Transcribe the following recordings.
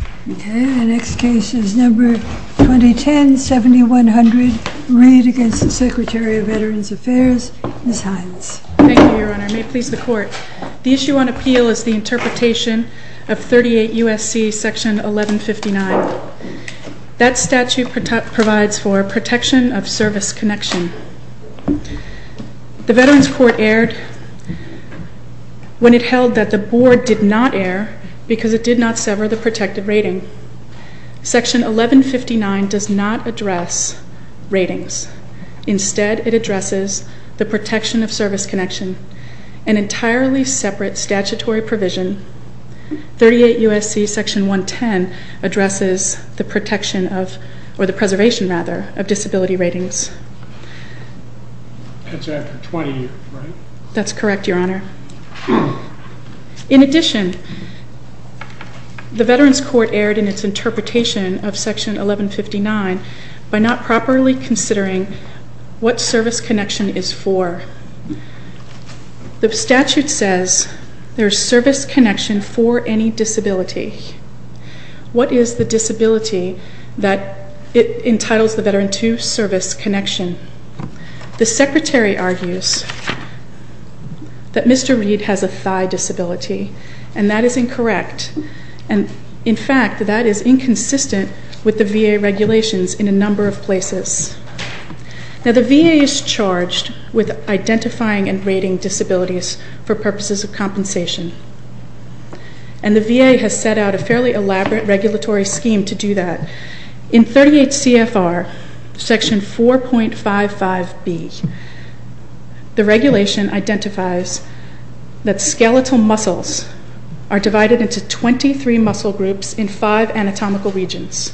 Okay, the next case is number 2010-7100. Read against the Secretary of Veterans Affairs, Ms. Hines. Thank you, Your Honor. May it please the Court. The issue on appeal is the interpretation of 38 U.S.C. section 1159. That statute provides for protection of service connection. The Veterans Court erred when it held that the Board did not err because it did not sever the protective rating. Section 1159 does not address ratings. Instead, it addresses the protection of service connection, an entirely separate statutory provision. 38 U.S.C. section 110 addresses the preservation of disability ratings. That's after 20, right? That's correct, Your Honor. In addition, the Veterans Court erred in its interpretation of section 1159 by not properly considering what service connection is for. The statute says there's service connection for any disability. What is the disability that it entitles the veteran to service connection? The Secretary argues that Mr. Read has a thigh disability, and that is incorrect. In fact, that is inconsistent with the VA regulations in a number of places. Now, the VA is charged with identifying and rating disabilities for purposes of compensation, and the VA has set out a fairly elaborate regulatory scheme to do that. In 38 CFR section 4.55B, the regulation identifies that skeletal muscles are divided into 23 muscle groups in 5 anatomical regions.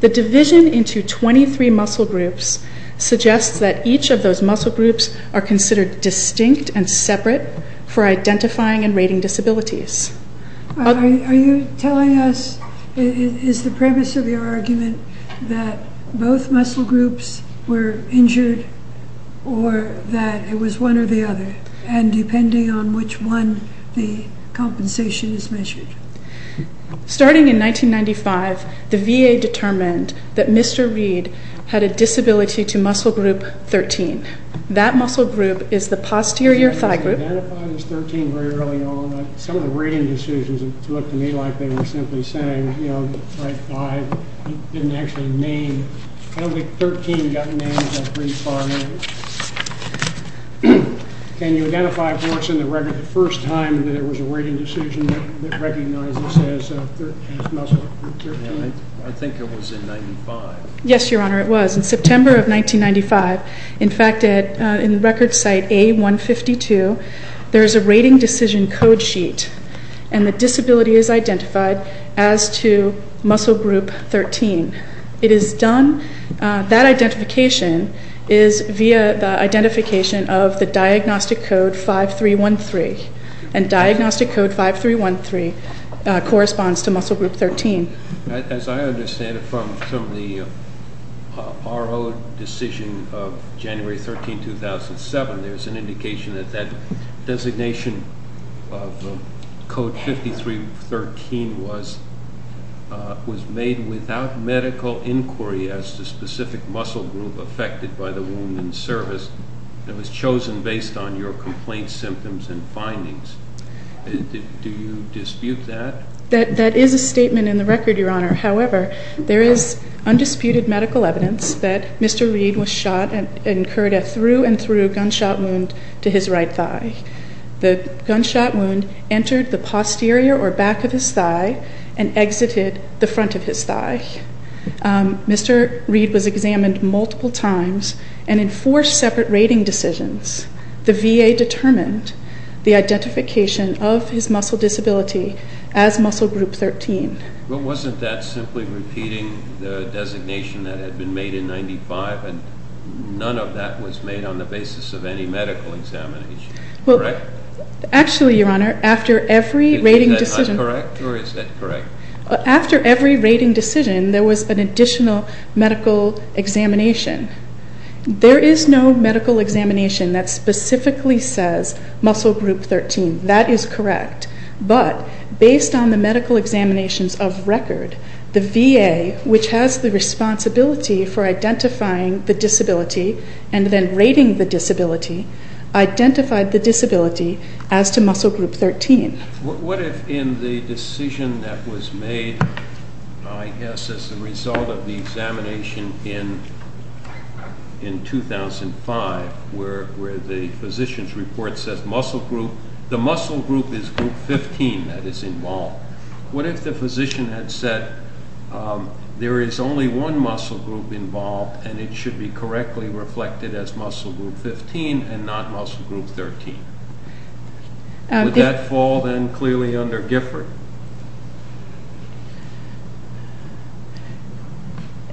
The division into 23 muscle groups suggests that each of those muscle groups are considered distinct and separate for identifying and rating disabilities. Are you telling us, is the premise of your argument that both muscle groups were injured or that it was one or the other, and depending on which one, the compensation is measured? Starting in 1995, the VA determined that Mr. Read had a disability to muscle group 13. That muscle group is the posterior thigh group. I don't think it was identified as 13 very early on. Some of the rating decisions looked to me like they were simply saying, you know, right thigh. It didn't actually name. I don't think 13 got named until pretty far in. Can you identify for us in the record the first time that there was a rating decision that recognized this as muscle group 13? I think it was in 1995. Yes, Your Honor, it was. In September of 1995, in fact, in record site A152, there is a rating decision code sheet, and the disability is identified as to muscle group 13. It is done, that identification is via the identification of the diagnostic code 5313, and diagnostic code 5313 corresponds to muscle group 13. As I understand it from the RO decision of January 13, 2007, there's an indication that that designation of code 5313 was made without medical inquiry as to specific muscle group affected by the wound in service, and was chosen based on your complaint symptoms and findings. Do you dispute that? That is a statement in the record, Your Honor. However, there is undisputed medical evidence that Mr. Reed was shot and incurred a through-and-through gunshot wound to his right thigh. The gunshot wound entered the posterior or back of his thigh and exited the front of his thigh. Mr. Reed was examined multiple times, and in four separate rating decisions, the VA determined the identification of his muscle disability as muscle group 13. Well, wasn't that simply repeating the designation that had been made in 1995, and none of that was made on the basis of any medical examination, correct? Actually, Your Honor, after every rating decision... Is that not correct, or is that correct? After every rating decision, there was an additional medical examination. There is no medical examination that specifically says muscle group 13. That is correct, but based on the medical examinations of record, the VA, which has the responsibility for identifying the disability and then rating the disability, identified the disability as to muscle group 13. What if in the decision that was made, I guess as a result of the examination in 2005, where the physician's report says muscle group, the muscle group is group 15 that is involved. What if the physician had said there is only one muscle group involved and it should be correctly reflected as muscle group 15 and not muscle group 13? Would that fall then clearly under Gifford?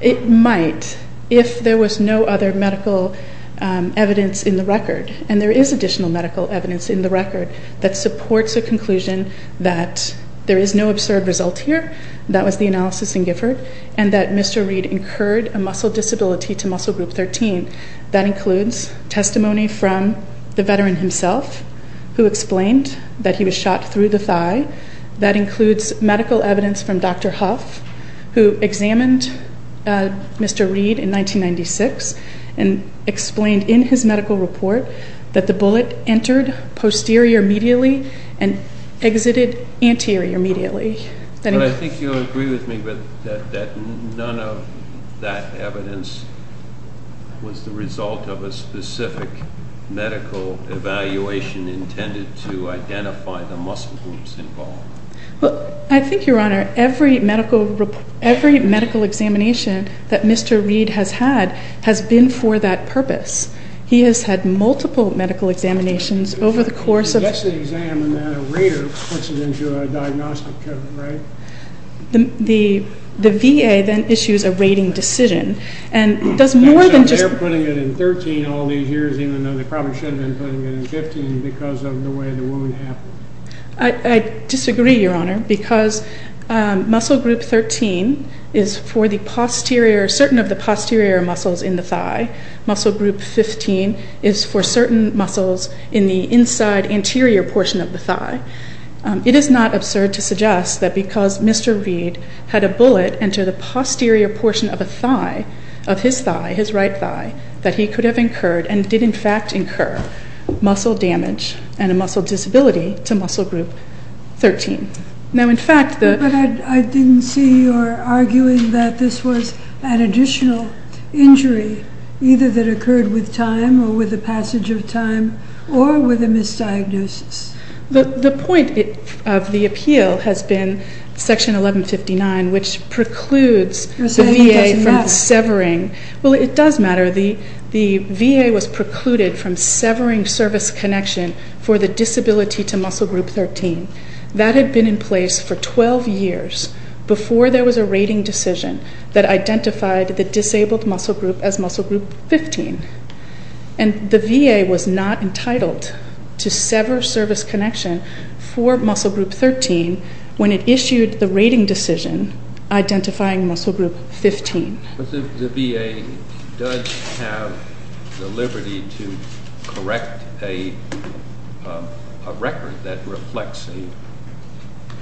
It might if there was no other medical evidence in the record, and there is additional medical evidence in the record that supports a conclusion that there is no absurd result here. That was the analysis in Gifford, and that Mr. Reed incurred a muscle disability to muscle group 13. That includes testimony from the veteran himself, who explained that he was shot through the thigh, that includes medical evidence from Dr. Huff, who examined Mr. Reed in 1996 and explained in his medical report that the bullet entered posterior medially and exited anterior medially. I think you'll agree with me that none of that evidence was the result of a specific medical evaluation intended to identify the muscle groups involved. I think, Your Honor, every medical examination that Mr. Reed has had has been for that purpose. He has had multiple medical examinations over the course of... He gets the exam and then a rater puts it into a diagnostic code, right? The VA then issues a rating decision and does more than just... I disagree, Your Honor, because muscle group 13 is for certain of the posterior muscles in the thigh. Muscle group 15 is for certain muscles in the inside anterior portion of the thigh. It is not absurd to suggest that because Mr. Reed had a bullet enter the posterior portion of a thigh, of his thigh, his right thigh, that he could have incurred and did in fact incur muscle damage and a muscle disability to muscle group 13. But I didn't see your arguing that this was an additional injury either that occurred with time or with the passage of time or with a misdiagnosis. The point of the appeal has been section 1159, which precludes the VA from severing. Well, it does matter. The VA was precluded from severing service connection for the disability to muscle group 13. That had been in place for 12 years before there was a rating decision that identified the disabled muscle group as muscle group 15. And the VA was not entitled to sever service connection for muscle group 13 when it issued the rating decision identifying muscle group 15. But the VA does have the liberty to correct a record that reflects a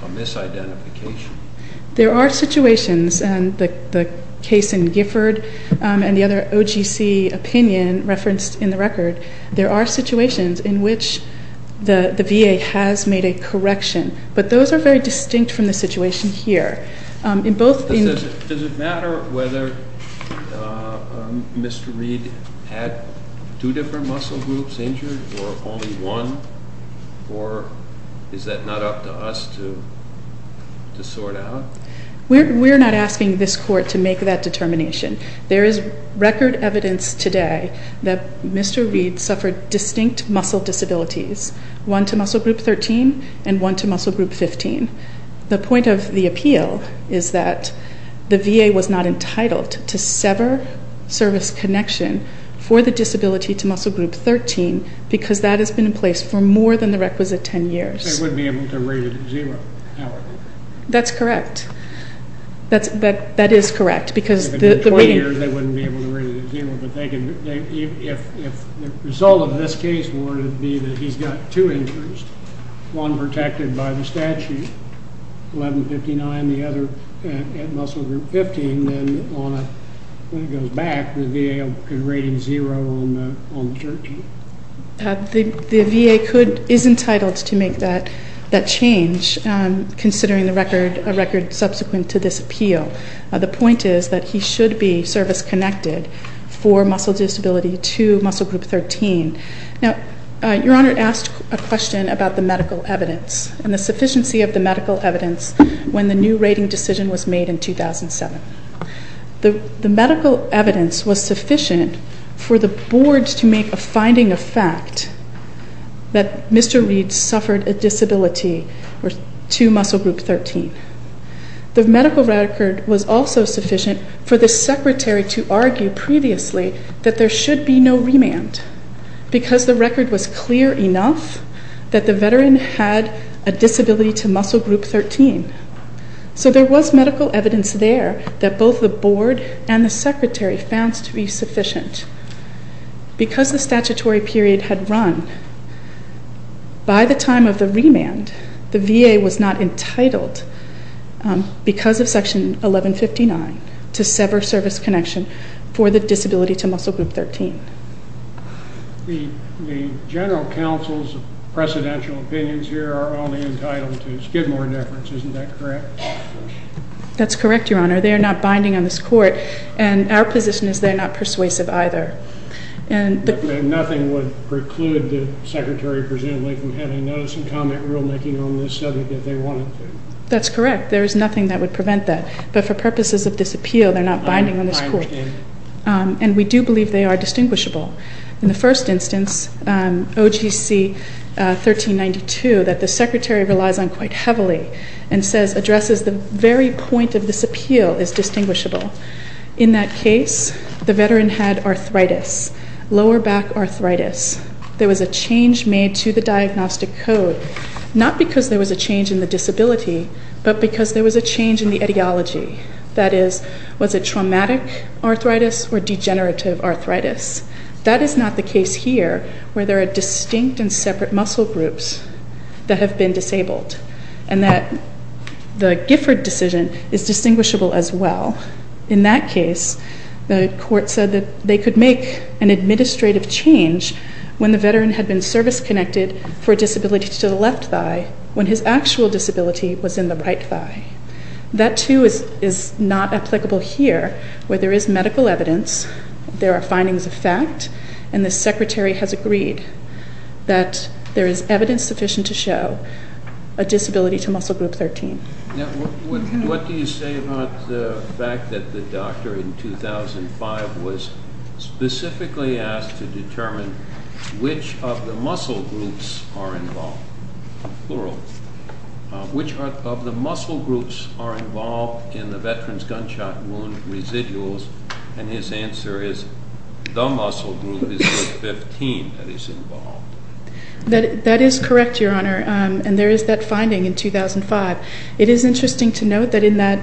misidentification. There are situations, and the case in Gifford and the other OGC opinion referenced in the record, there are situations in which the VA has made a correction. But those are very distinct from the situation here. Does it matter whether Mr. Reed had two different muscle groups injured or only one? Or is that not up to us to sort out? We're not asking this court to make that determination. There is record evidence today that Mr. Reed suffered distinct muscle disabilities, one to muscle group 13 and one to muscle group 15. The point of the appeal is that the VA was not entitled to sever service connection for the disability to muscle group 13 because that has been in place for more than the requisite 10 years. They wouldn't be able to rate it at zero, however. That's correct. That is correct. If it had been 20 years, they wouldn't be able to rate it at zero. If the result of this case were to be that he's got two injuries, one protected by the statute, 1159, the other at muscle group 15, and then when it goes back, the VA could rate him zero on the 13th. The VA is entitled to make that change, considering the record subsequent to this appeal. The point is that he should be service connected for muscle disability to muscle group 13. Now, Your Honor asked a question about the medical evidence and the sufficiency of the medical evidence when the new rating decision was made in 2007. The medical evidence was sufficient for the board to make a finding of fact that Mr. Reed suffered a disability to muscle group 13. The medical record was also sufficient for the secretary to argue previously that there should be no remand because the record was clear enough that the veteran had a disability to muscle group 13. So there was medical evidence there that both the board and the secretary found to be sufficient. Because the statutory period had run, by the time of the remand, the VA was not entitled, because of section 1159, to sever service connection for the disability to muscle group 13. The general counsel's precedential opinions here are only entitled to skid more difference. Isn't that correct? That's correct, Your Honor. They are not binding on this court, and our position is they're not persuasive either. And nothing would preclude the secretary, presumably, from having notice and comment rulemaking on this subject if they wanted to. That's correct. There is nothing that would prevent that. But for purposes of this appeal, they're not binding on this court. And we do believe they are distinguishable. In the first instance, OGC 1392, that the secretary relies on quite heavily and says addresses the very point of this appeal is distinguishable. In that case, the veteran had arthritis, lower back arthritis. There was a change made to the diagnostic code, not because there was a change in the disability, but because there was a change in the etiology. That is, was it traumatic arthritis or degenerative arthritis? That is not the case here where there are distinct and separate muscle groups that have been disabled and that the Gifford decision is distinguishable as well. In that case, the court said that they could make an administrative change when the veteran had been service-connected for a disability to the left thigh when his actual disability was in the right thigh. That, too, is not applicable here where there is medical evidence, there are findings of fact, and the secretary has agreed that there is evidence sufficient to show a disability to muscle group 13. What do you say about the fact that the doctor in 2005 was specifically asked to determine which of the muscle groups are involved, plural, which of the muscle groups are involved in the veteran's gunshot wound residuals, and his answer is the muscle group is group 15 that is involved? That is correct, Your Honor, and there is that finding in 2005. It is interesting to note that in that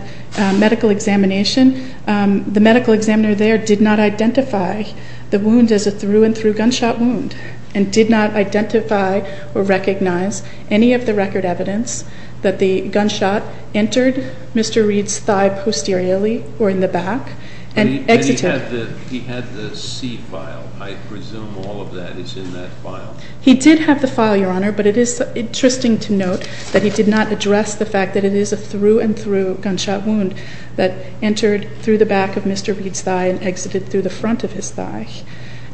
medical examination, the medical examiner there did not identify the wound as a through-and-through gunshot wound and did not identify or recognize any of the record evidence that the gunshot entered Mr. Reed's thigh posteriorly or in the back and exited. He had the C file. I presume all of that is in that file. He did have the file, Your Honor, but it is interesting to note that he did not address the fact that it is a through-and-through gunshot wound that entered through the back of Mr. Reed's thigh and exited through the front of his thigh.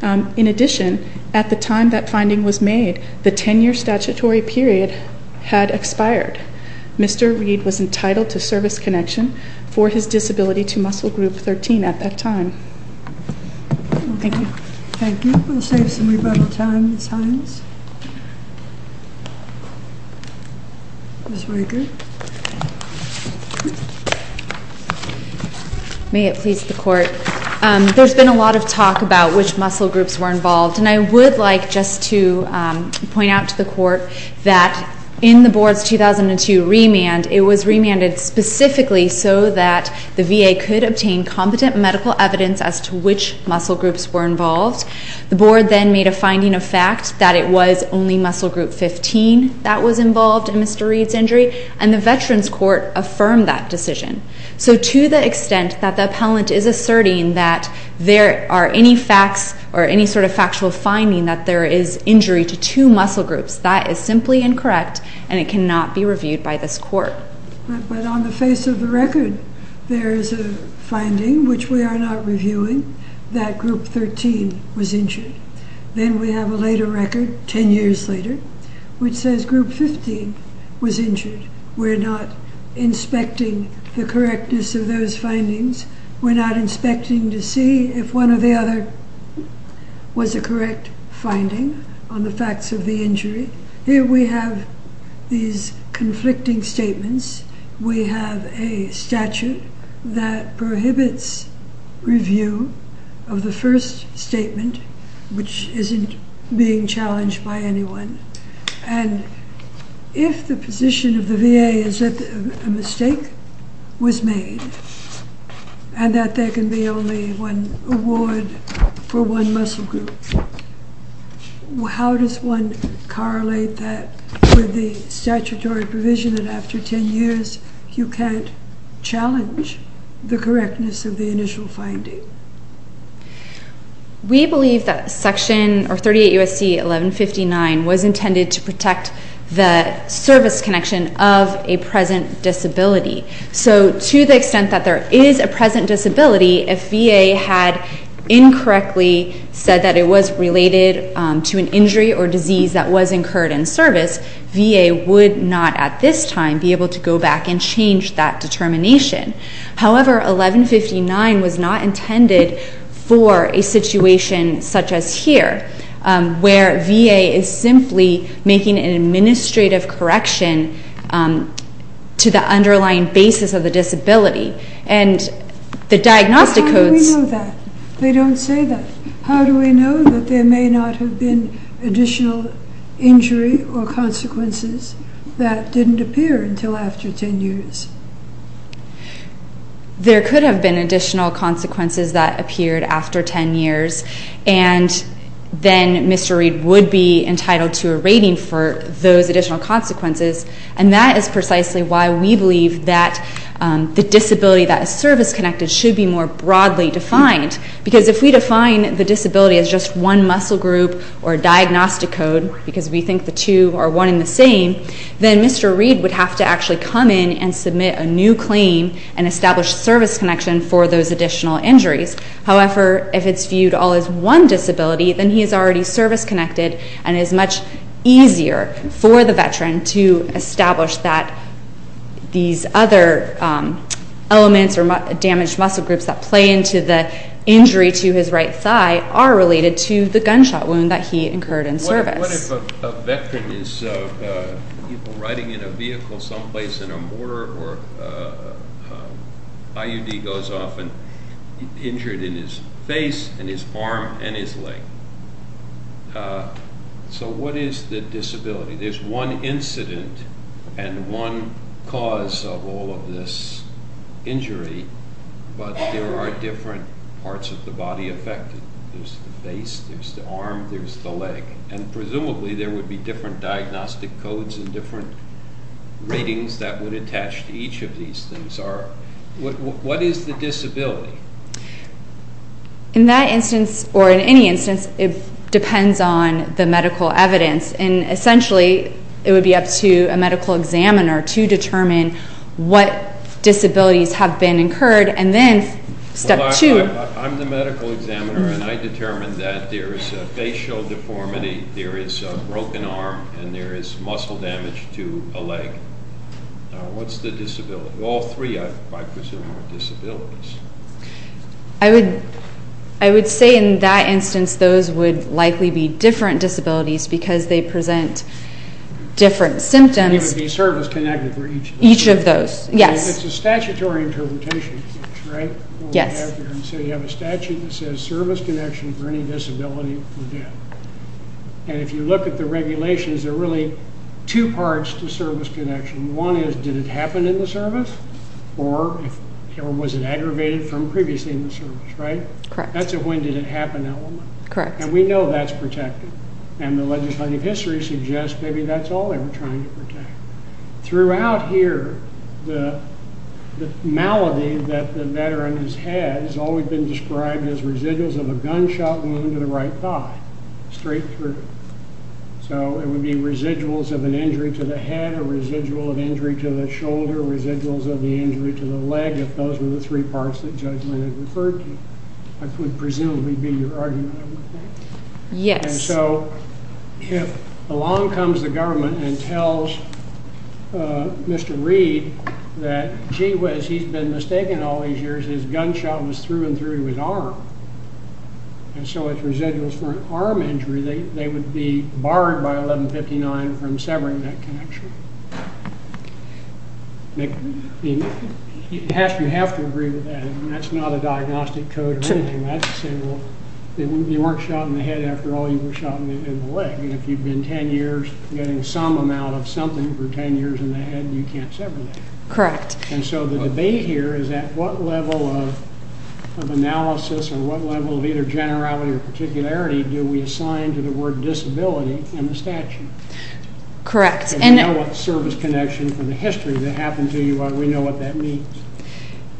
In addition, at the time that finding was made, the 10-year statutory period had expired. Mr. Reed was entitled to service connection for his disability to muscle group 13 at that time. Thank you. Thank you. Any other questions? Ms. Riker. May it please the Court. There has been a lot of talk about which muscle groups were involved, and I would like just to point out to the Court that in the Board's 2002 remand, it was remanded specifically so that the VA could obtain competent medical evidence as to which muscle groups were involved. The Board then made a finding of fact that it was only muscle group 15 that was involved in Mr. Reed's injury, and the Veterans Court affirmed that decision. So to the extent that the appellant is asserting that there are any facts or any sort of factual finding that there is injury to two muscle groups, that is simply incorrect and it cannot be reviewed by this Court. But on the face of the record, there is a finding, which we are not reviewing, that group 13 was injured. Then we have a later record, 10 years later, which says group 15 was injured. We're not inspecting the correctness of those findings. We're not inspecting to see if one or the other was a correct finding on the facts of the injury. Here we have these conflicting statements. We have a statute that prohibits review of the first statement, which isn't being challenged by anyone. And if the position of the VA is that a mistake was made and that there can be only one award for one muscle group, how does one correlate that with the statutory provision that after 10 years you can't challenge the correctness of the initial finding? We believe that Section 38 U.S.C. 1159 was intended to protect the service connection of a present disability. So to the extent that there is a present disability, if VA had incorrectly said that it was related to an injury or disease that was incurred in service, VA would not at this time be able to go back and change that determination. However, 1159 was not intended for a situation such as here, where VA is simply making an administrative correction to the underlying basis of the disability. And the diagnostic codes... But how do we know that? They don't say that. How do we know that there may not have been additional injury or consequences that didn't appear until after 10 years? There could have been additional consequences that appeared after 10 years. And then Mr. Reed would be entitled to a rating for those additional consequences. And that is precisely why we believe that the disability that is service-connected should be more broadly defined. Because if we define the disability as just one muscle group or diagnostic code, because we think the two are one and the same, then Mr. Reed would have to actually come in and submit a new claim and establish service connection for those additional injuries. However, if it's viewed all as one disability, then he is already service-connected and it is much easier for the veteran to establish that these other elements or damaged muscle groups that play into the injury to his right thigh are related to the gunshot wound that he incurred in service. What if a veteran is riding in a vehicle someplace and a mortar or IUD goes off and injured in his face and his arm and his leg? So what is the disability? There's one incident and one cause of all of this injury, but there are different parts of the body affected. There's the face, there's the arm, there's the leg. And presumably there would be different diagnostic codes and different ratings that would attach to each of these things. What is the disability? In that instance, or in any instance, it depends on the medical evidence. And essentially it would be up to a medical examiner to determine what disabilities have been incurred. I'm the medical examiner and I determined that there is a facial deformity, there is a broken arm, and there is muscle damage to a leg. What's the disability? All three, I presume, are disabilities. I would say in that instance those would likely be different disabilities because they present different symptoms. He would be service-connected for each of those. It's a statutory interpretation, right? Yes. So you have a statute that says service connection for any disability for death. And if you look at the regulations, there are really two parts to service connection. One is did it happen in the service or was it aggravated from previously in the service, right? Correct. That's a when did it happen element. Correct. And we know that's protected. And the legislative history suggests maybe that's all they were trying to protect. Throughout here, the malady that the veteran has had has always been described as residuals of a gunshot wound to the right thigh, straight through. So it would be residuals of an injury to the head, a residual of injury to the shoulder, residuals of the injury to the leg, if those were the three parts that judgment had referred to. That would presumably be your argument, I would think. Yes. And so along comes the government and tells Mr. Reed that gee whiz, he's been mistaken all these years. His gunshot was through and through his arm. And so it's residuals for an arm injury. They would be barred by 1159 from severing that connection. You have to agree with that. That's not a diagnostic code or anything. You weren't shot in the head after all. You were shot in the leg. And if you've been 10 years getting some amount of something for 10 years in the head, you can't sever that. Correct. And so the debate here is at what level of analysis or what level of either generality or particularity do we assign to the word disability in the statute? Correct. And now what service connection from the history that happened to you, we know what that means.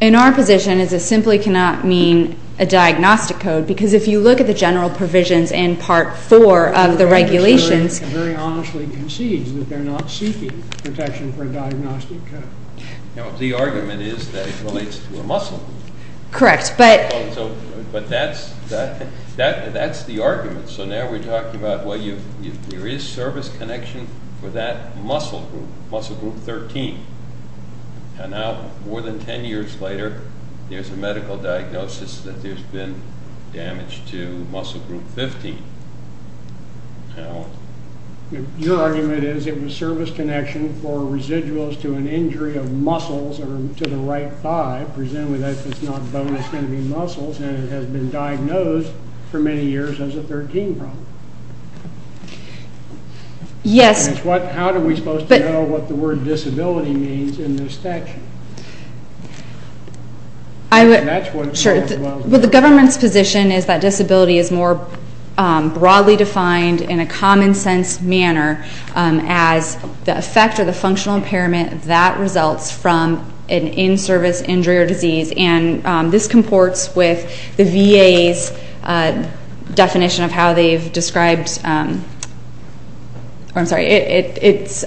In our position, it simply cannot mean a diagnostic code, because if you look at the general provisions in Part 4 of the regulations. It very honestly concedes that they're not seeking protection for a diagnostic code. The argument is that it relates to a muscle group. Correct. But that's the argument. So now we're talking about, well, there is service connection for that muscle group, muscle group 13. And now more than 10 years later, there's a medical diagnosis that there's been damage to muscle group 15. Your argument is it was service connection for residuals to an injury of muscles to the right thigh. Presumably that's not bone, it's going to be muscles. And it has been diagnosed for many years as a 13 problem. Yes. How are we supposed to know what the word disability means in the statute? The government's position is that disability is more broadly defined in a common sense manner as the effect or the functional impairment that results from an in-service injury or disease. And this comports with the VA's definition of how they've described, I'm sorry, it's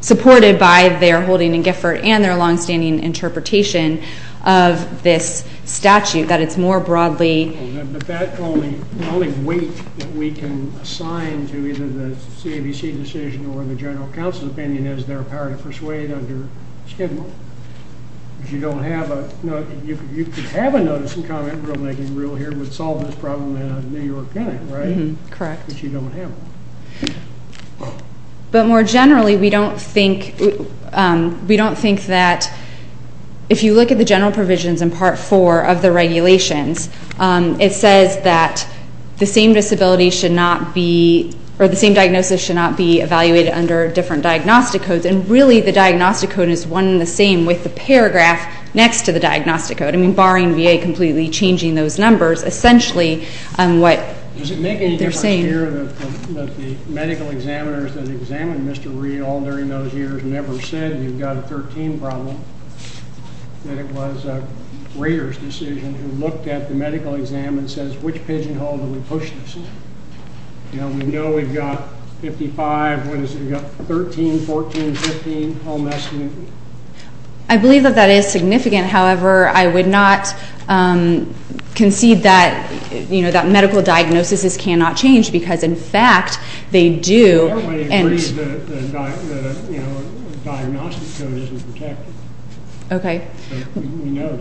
supported by their holding in Gifford and their longstanding interpretation of this statute, that it's more broadly. But that's the only weight that we can assign to either the CABC decision or the general counsel's opinion as their power to persuade under schedule. Because you don't have a, you could have a notice and comment rulemaking rule here that would solve this problem in a New York county, right? Correct. But you don't have one. But more generally, we don't think that, if you look at the general provisions in part four of the regulations, it says that the same disability should not be, or the same diagnosis should not be evaluated under different diagnostic codes. And really, the diagnostic code is one and the same with the paragraph next to the diagnostic code. I mean, barring VA completely changing those numbers, essentially what they're saying. Does it make any difference here that the medical examiners that examined Mr. Reed all during those years never said you've got a 13 problem? That it was a Rader's decision who looked at the medical exam and says, which pigeonhole do we push this in? You know, we know we've got 55, what is it? We've got 13, 14, 15 home estimates. I believe that that is significant. However, I would not concede that, you know, that medical diagnoses cannot change because, in fact, they do. Everybody agrees that the diagnostic code isn't protected. Okay. We know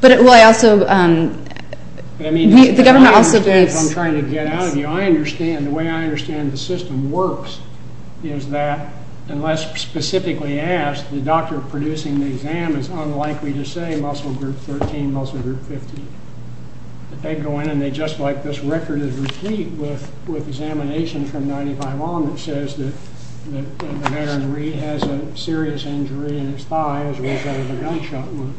that. Well, I also – the government also believes – I mean, I don't understand if I'm trying to get out of you. I understand. The way I understand the system works is that unless specifically asked, the doctor producing the exam is unlikely to say muscle group 13, muscle group 15. They go in and they just like this record is repeat with examination from 95 on that says that the veteran Reed has a serious injury in his thigh as a result of the gunshot wound.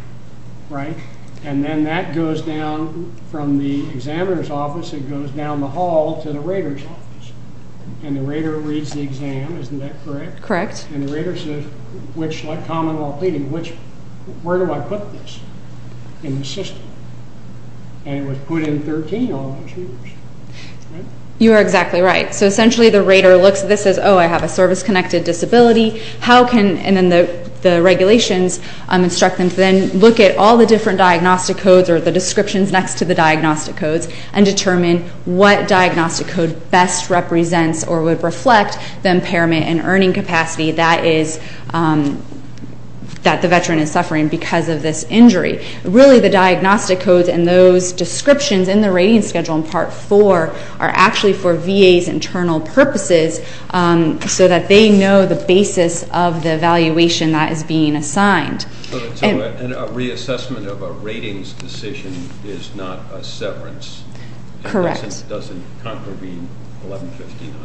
Right? And then that goes down from the examiner's office. It goes down the hall to the Rader's office. And the Rader reads the exam. Isn't that correct? Correct. And the Rader says, like common law pleading, where do I put this in the system? And it was put in 13 all those years. Right? You are exactly right. So essentially the Rader looks at this and says, oh, I have a service-connected disability. How can – and then the regulations instruct them to then look at all the different diagnostic codes or the descriptions next to the diagnostic codes and determine what diagnostic code best represents or would reflect the impairment and earning capacity that is – that the veteran is suffering because of this injury. Really the diagnostic codes and those descriptions in the rating schedule in Part 4 are actually for VA's internal purposes so that they know the basis of the evaluation that is being assigned. So a reassessment of a ratings decision is not a severance. Correct. It doesn't contravene 1159.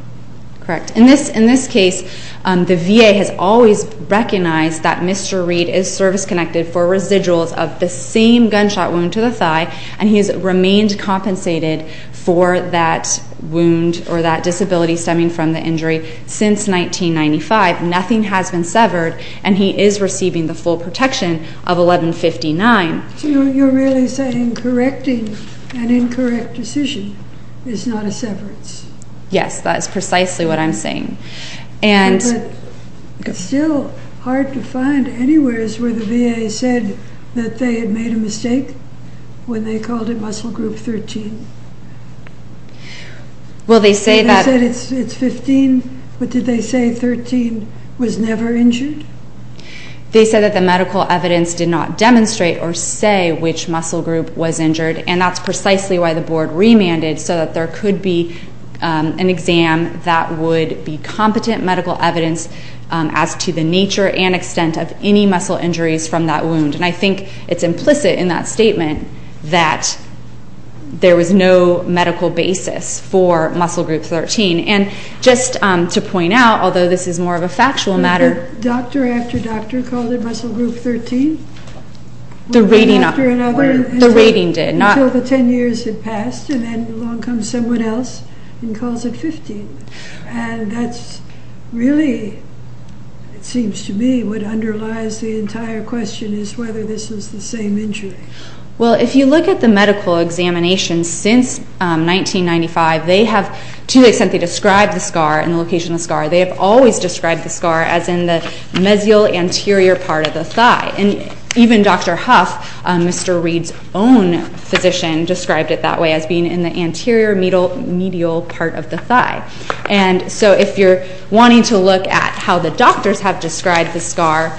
Correct. In this case, the VA has always recognized that Mr. Reed is service-connected for residuals of the same gunshot wound to the thigh, and he has remained compensated for that wound or that disability stemming from the injury since 1995. Nothing has been severed, and he is receiving the full protection of 1159. So you're really saying correcting an incorrect decision is not a severance? Yes. That is precisely what I'm saying. And – But it's still hard to find anywheres where the VA said that they had made a mistake when they called it muscle group 13. Well, they say that – They said that the medical evidence did not demonstrate or say which muscle group was injured, and that's precisely why the board remanded so that there could be an exam that would be competent medical evidence as to the nature and extent of any muscle injuries from that wound. And I think it's implicit in that statement that there was no medical basis for muscle group 13. And just to point out, although this is more of a factual matter – The doctor after doctor called it muscle group 13? The rating – One after another? The rating did, not – Until the 10 years had passed, and then along comes someone else and calls it 15. And that's really, it seems to me, what underlies the entire question is whether this is the same injury. Well, if you look at the medical examinations since 1995, they have to the extent they describe the scar and the location of the scar, they have always described the scar as in the mesial anterior part of the thigh. And even Dr. Huff, Mr. Reed's own physician, described it that way as being in the anterior medial part of the thigh. And so if you're wanting to look at how the doctors have described the scar,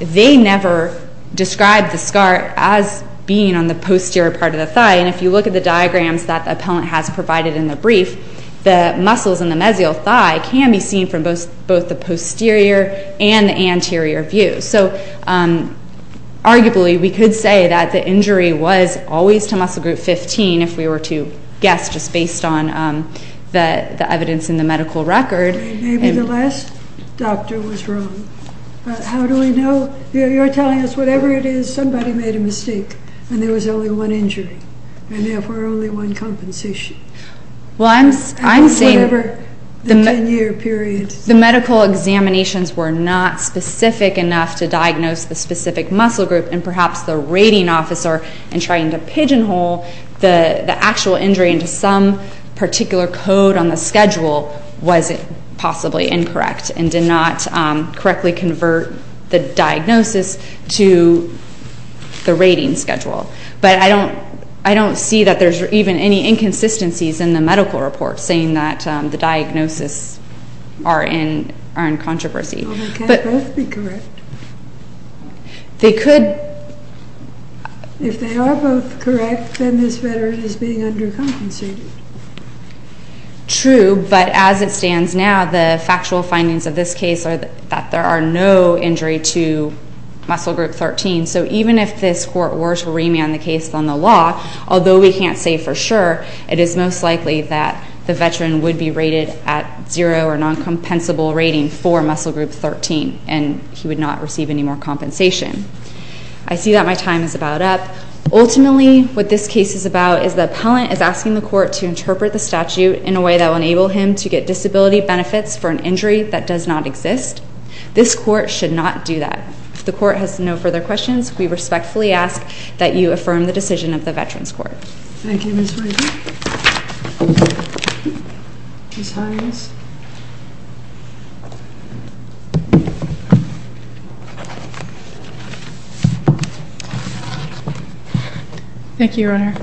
they never described the scar as being on the posterior part of the thigh. And if you look at the diagrams that the appellant has provided in the brief, the muscles in the mesial thigh can be seen from both the posterior and the anterior view. So arguably we could say that the injury was always to muscle group 15 if we were to guess just based on the evidence in the medical record. Maybe the last doctor was wrong. But how do we know? You're telling us whatever it is, somebody made a mistake and there was only one injury and therefore only one compensation. Well, I'm saying the medical examinations were not specific enough to diagnose the specific muscle group and perhaps the rating officer in trying to pigeonhole the actual injury into some particular code on the schedule was possibly incorrect and did not correctly convert the diagnosis to the rating schedule. But I don't see that there's even any inconsistencies in the medical report saying that the diagnoses are in controversy. Well, they can't both be correct. They could. If they are both correct, then this veteran is being undercompensated. True, but as it stands now, the factual findings of this case are that there are no injury to muscle group 13. So even if this court were to remand the case on the law, although we can't say for sure, it is most likely that the veteran would be rated at zero or noncompensable rating for muscle group 13 and he would not receive any more compensation. I see that my time is about up. Ultimately, what this case is about is the appellant is asking the court to interpret the statute in a way that will enable him to get disability benefits for an injury that does not exist. This court should not do that. If the court has no further questions, we respectfully ask that you affirm the decision of the Veterans Court. Thank you, Ms. Wright. Ms. Hines. Thank you, Your Honor.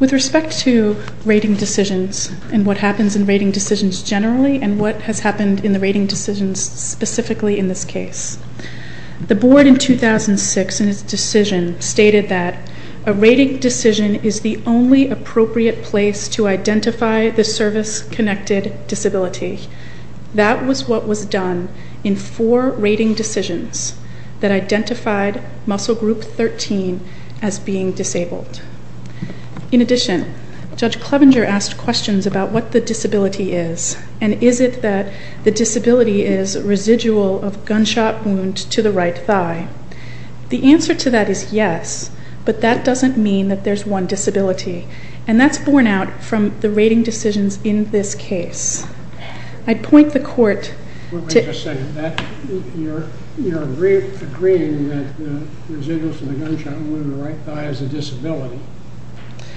With respect to rating decisions and what happens in rating decisions generally and what has happened in the rating decisions specifically in this case, the board in 2006 in its decision stated that a rating decision is the only appropriate place to identify the service-connected disability. That was what was done in four rating decisions that identified muscle group 13 as being disabled. In addition, Judge Clevenger asked questions about what the disability is and is it that the disability is residual of gunshot wound to the right thigh. The answer to that is yes, but that doesn't mean that there's one disability, and that's borne out from the rating decisions in this case. I'd point the court to... You're agreeing that the residuals of the gunshot wound to the right thigh is a disability,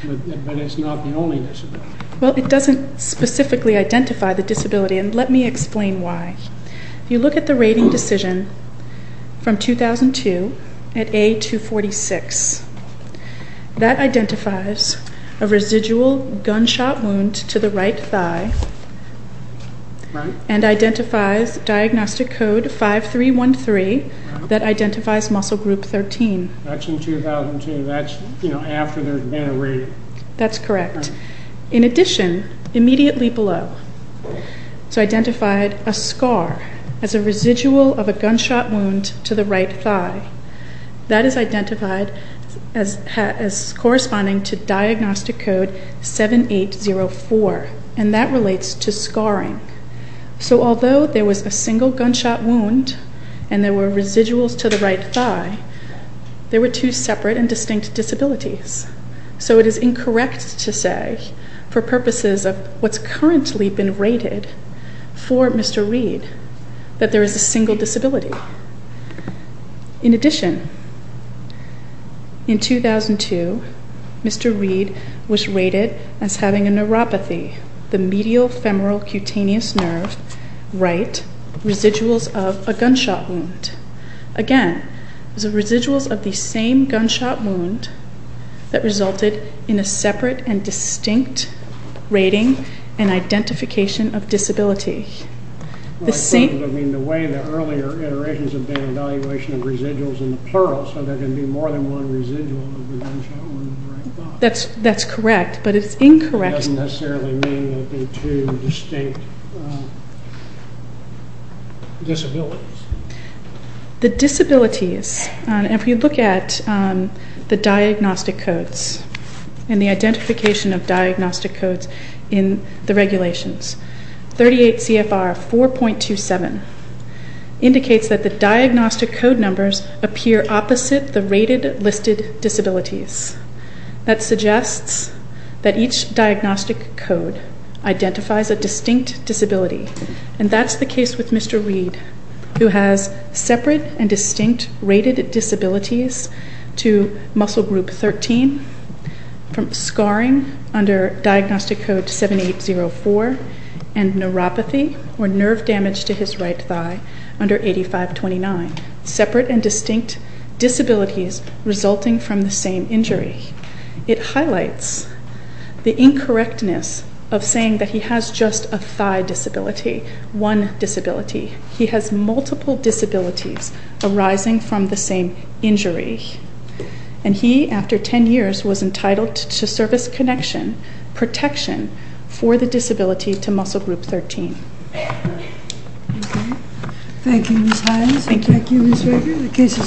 but it's not the only disability. Well, it doesn't specifically identify the disability, and let me explain why. If you look at the rating decision from 2002 at A246, that identifies a residual gunshot wound to the right thigh and identifies diagnostic code 5313 that identifies muscle group 13. That's in 2002. That's, you know, after there's been a rating. That's correct. In addition, immediately below, it's identified a scar as a residual of a gunshot wound to the right thigh. That is identified as corresponding to diagnostic code 7804, and that relates to scarring. So although there was a single gunshot wound and there were residuals to the right thigh, there were two separate and distinct disabilities. So it is incorrect to say, for purposes of what's currently been rated for Mr. Reed, that there is a single disability. In addition, in 2002, Mr. Reed was rated as having a neuropathy, the medial femoral cutaneous nerve right, residuals of a gunshot wound. Again, it was the residuals of the same gunshot wound that resulted in a separate and distinct rating and identification of disability. The way the earlier iterations have been evaluation of residuals in the plural, so there can be more than one residual of a gunshot wound to the right thigh. That's correct, but it's incorrect. It doesn't necessarily mean there have been two distinct disabilities. The disabilities, if you look at the diagnostic codes and the identification of diagnostic codes in the regulations, 38 CFR 4.27 indicates that the diagnostic code numbers appear opposite the rated listed disabilities. That suggests that each diagnostic code identifies a distinct disability, and that's the case with Mr. Reed, who has separate and distinct rated disabilities to muscle group 13, from scarring under diagnostic code 7804, and neuropathy, or nerve damage to his right thigh, under 8529. Separate and distinct disabilities resulting from the same injury. It highlights the incorrectness of saying that he has just a thigh disability, one disability. He has multiple disabilities arising from the same injury, and he, after 10 years, was entitled to service connection protection for the disability to muscle group 13. Thank you, Ms. Hines. Thank you, Ms. Rager. The case is taken under session.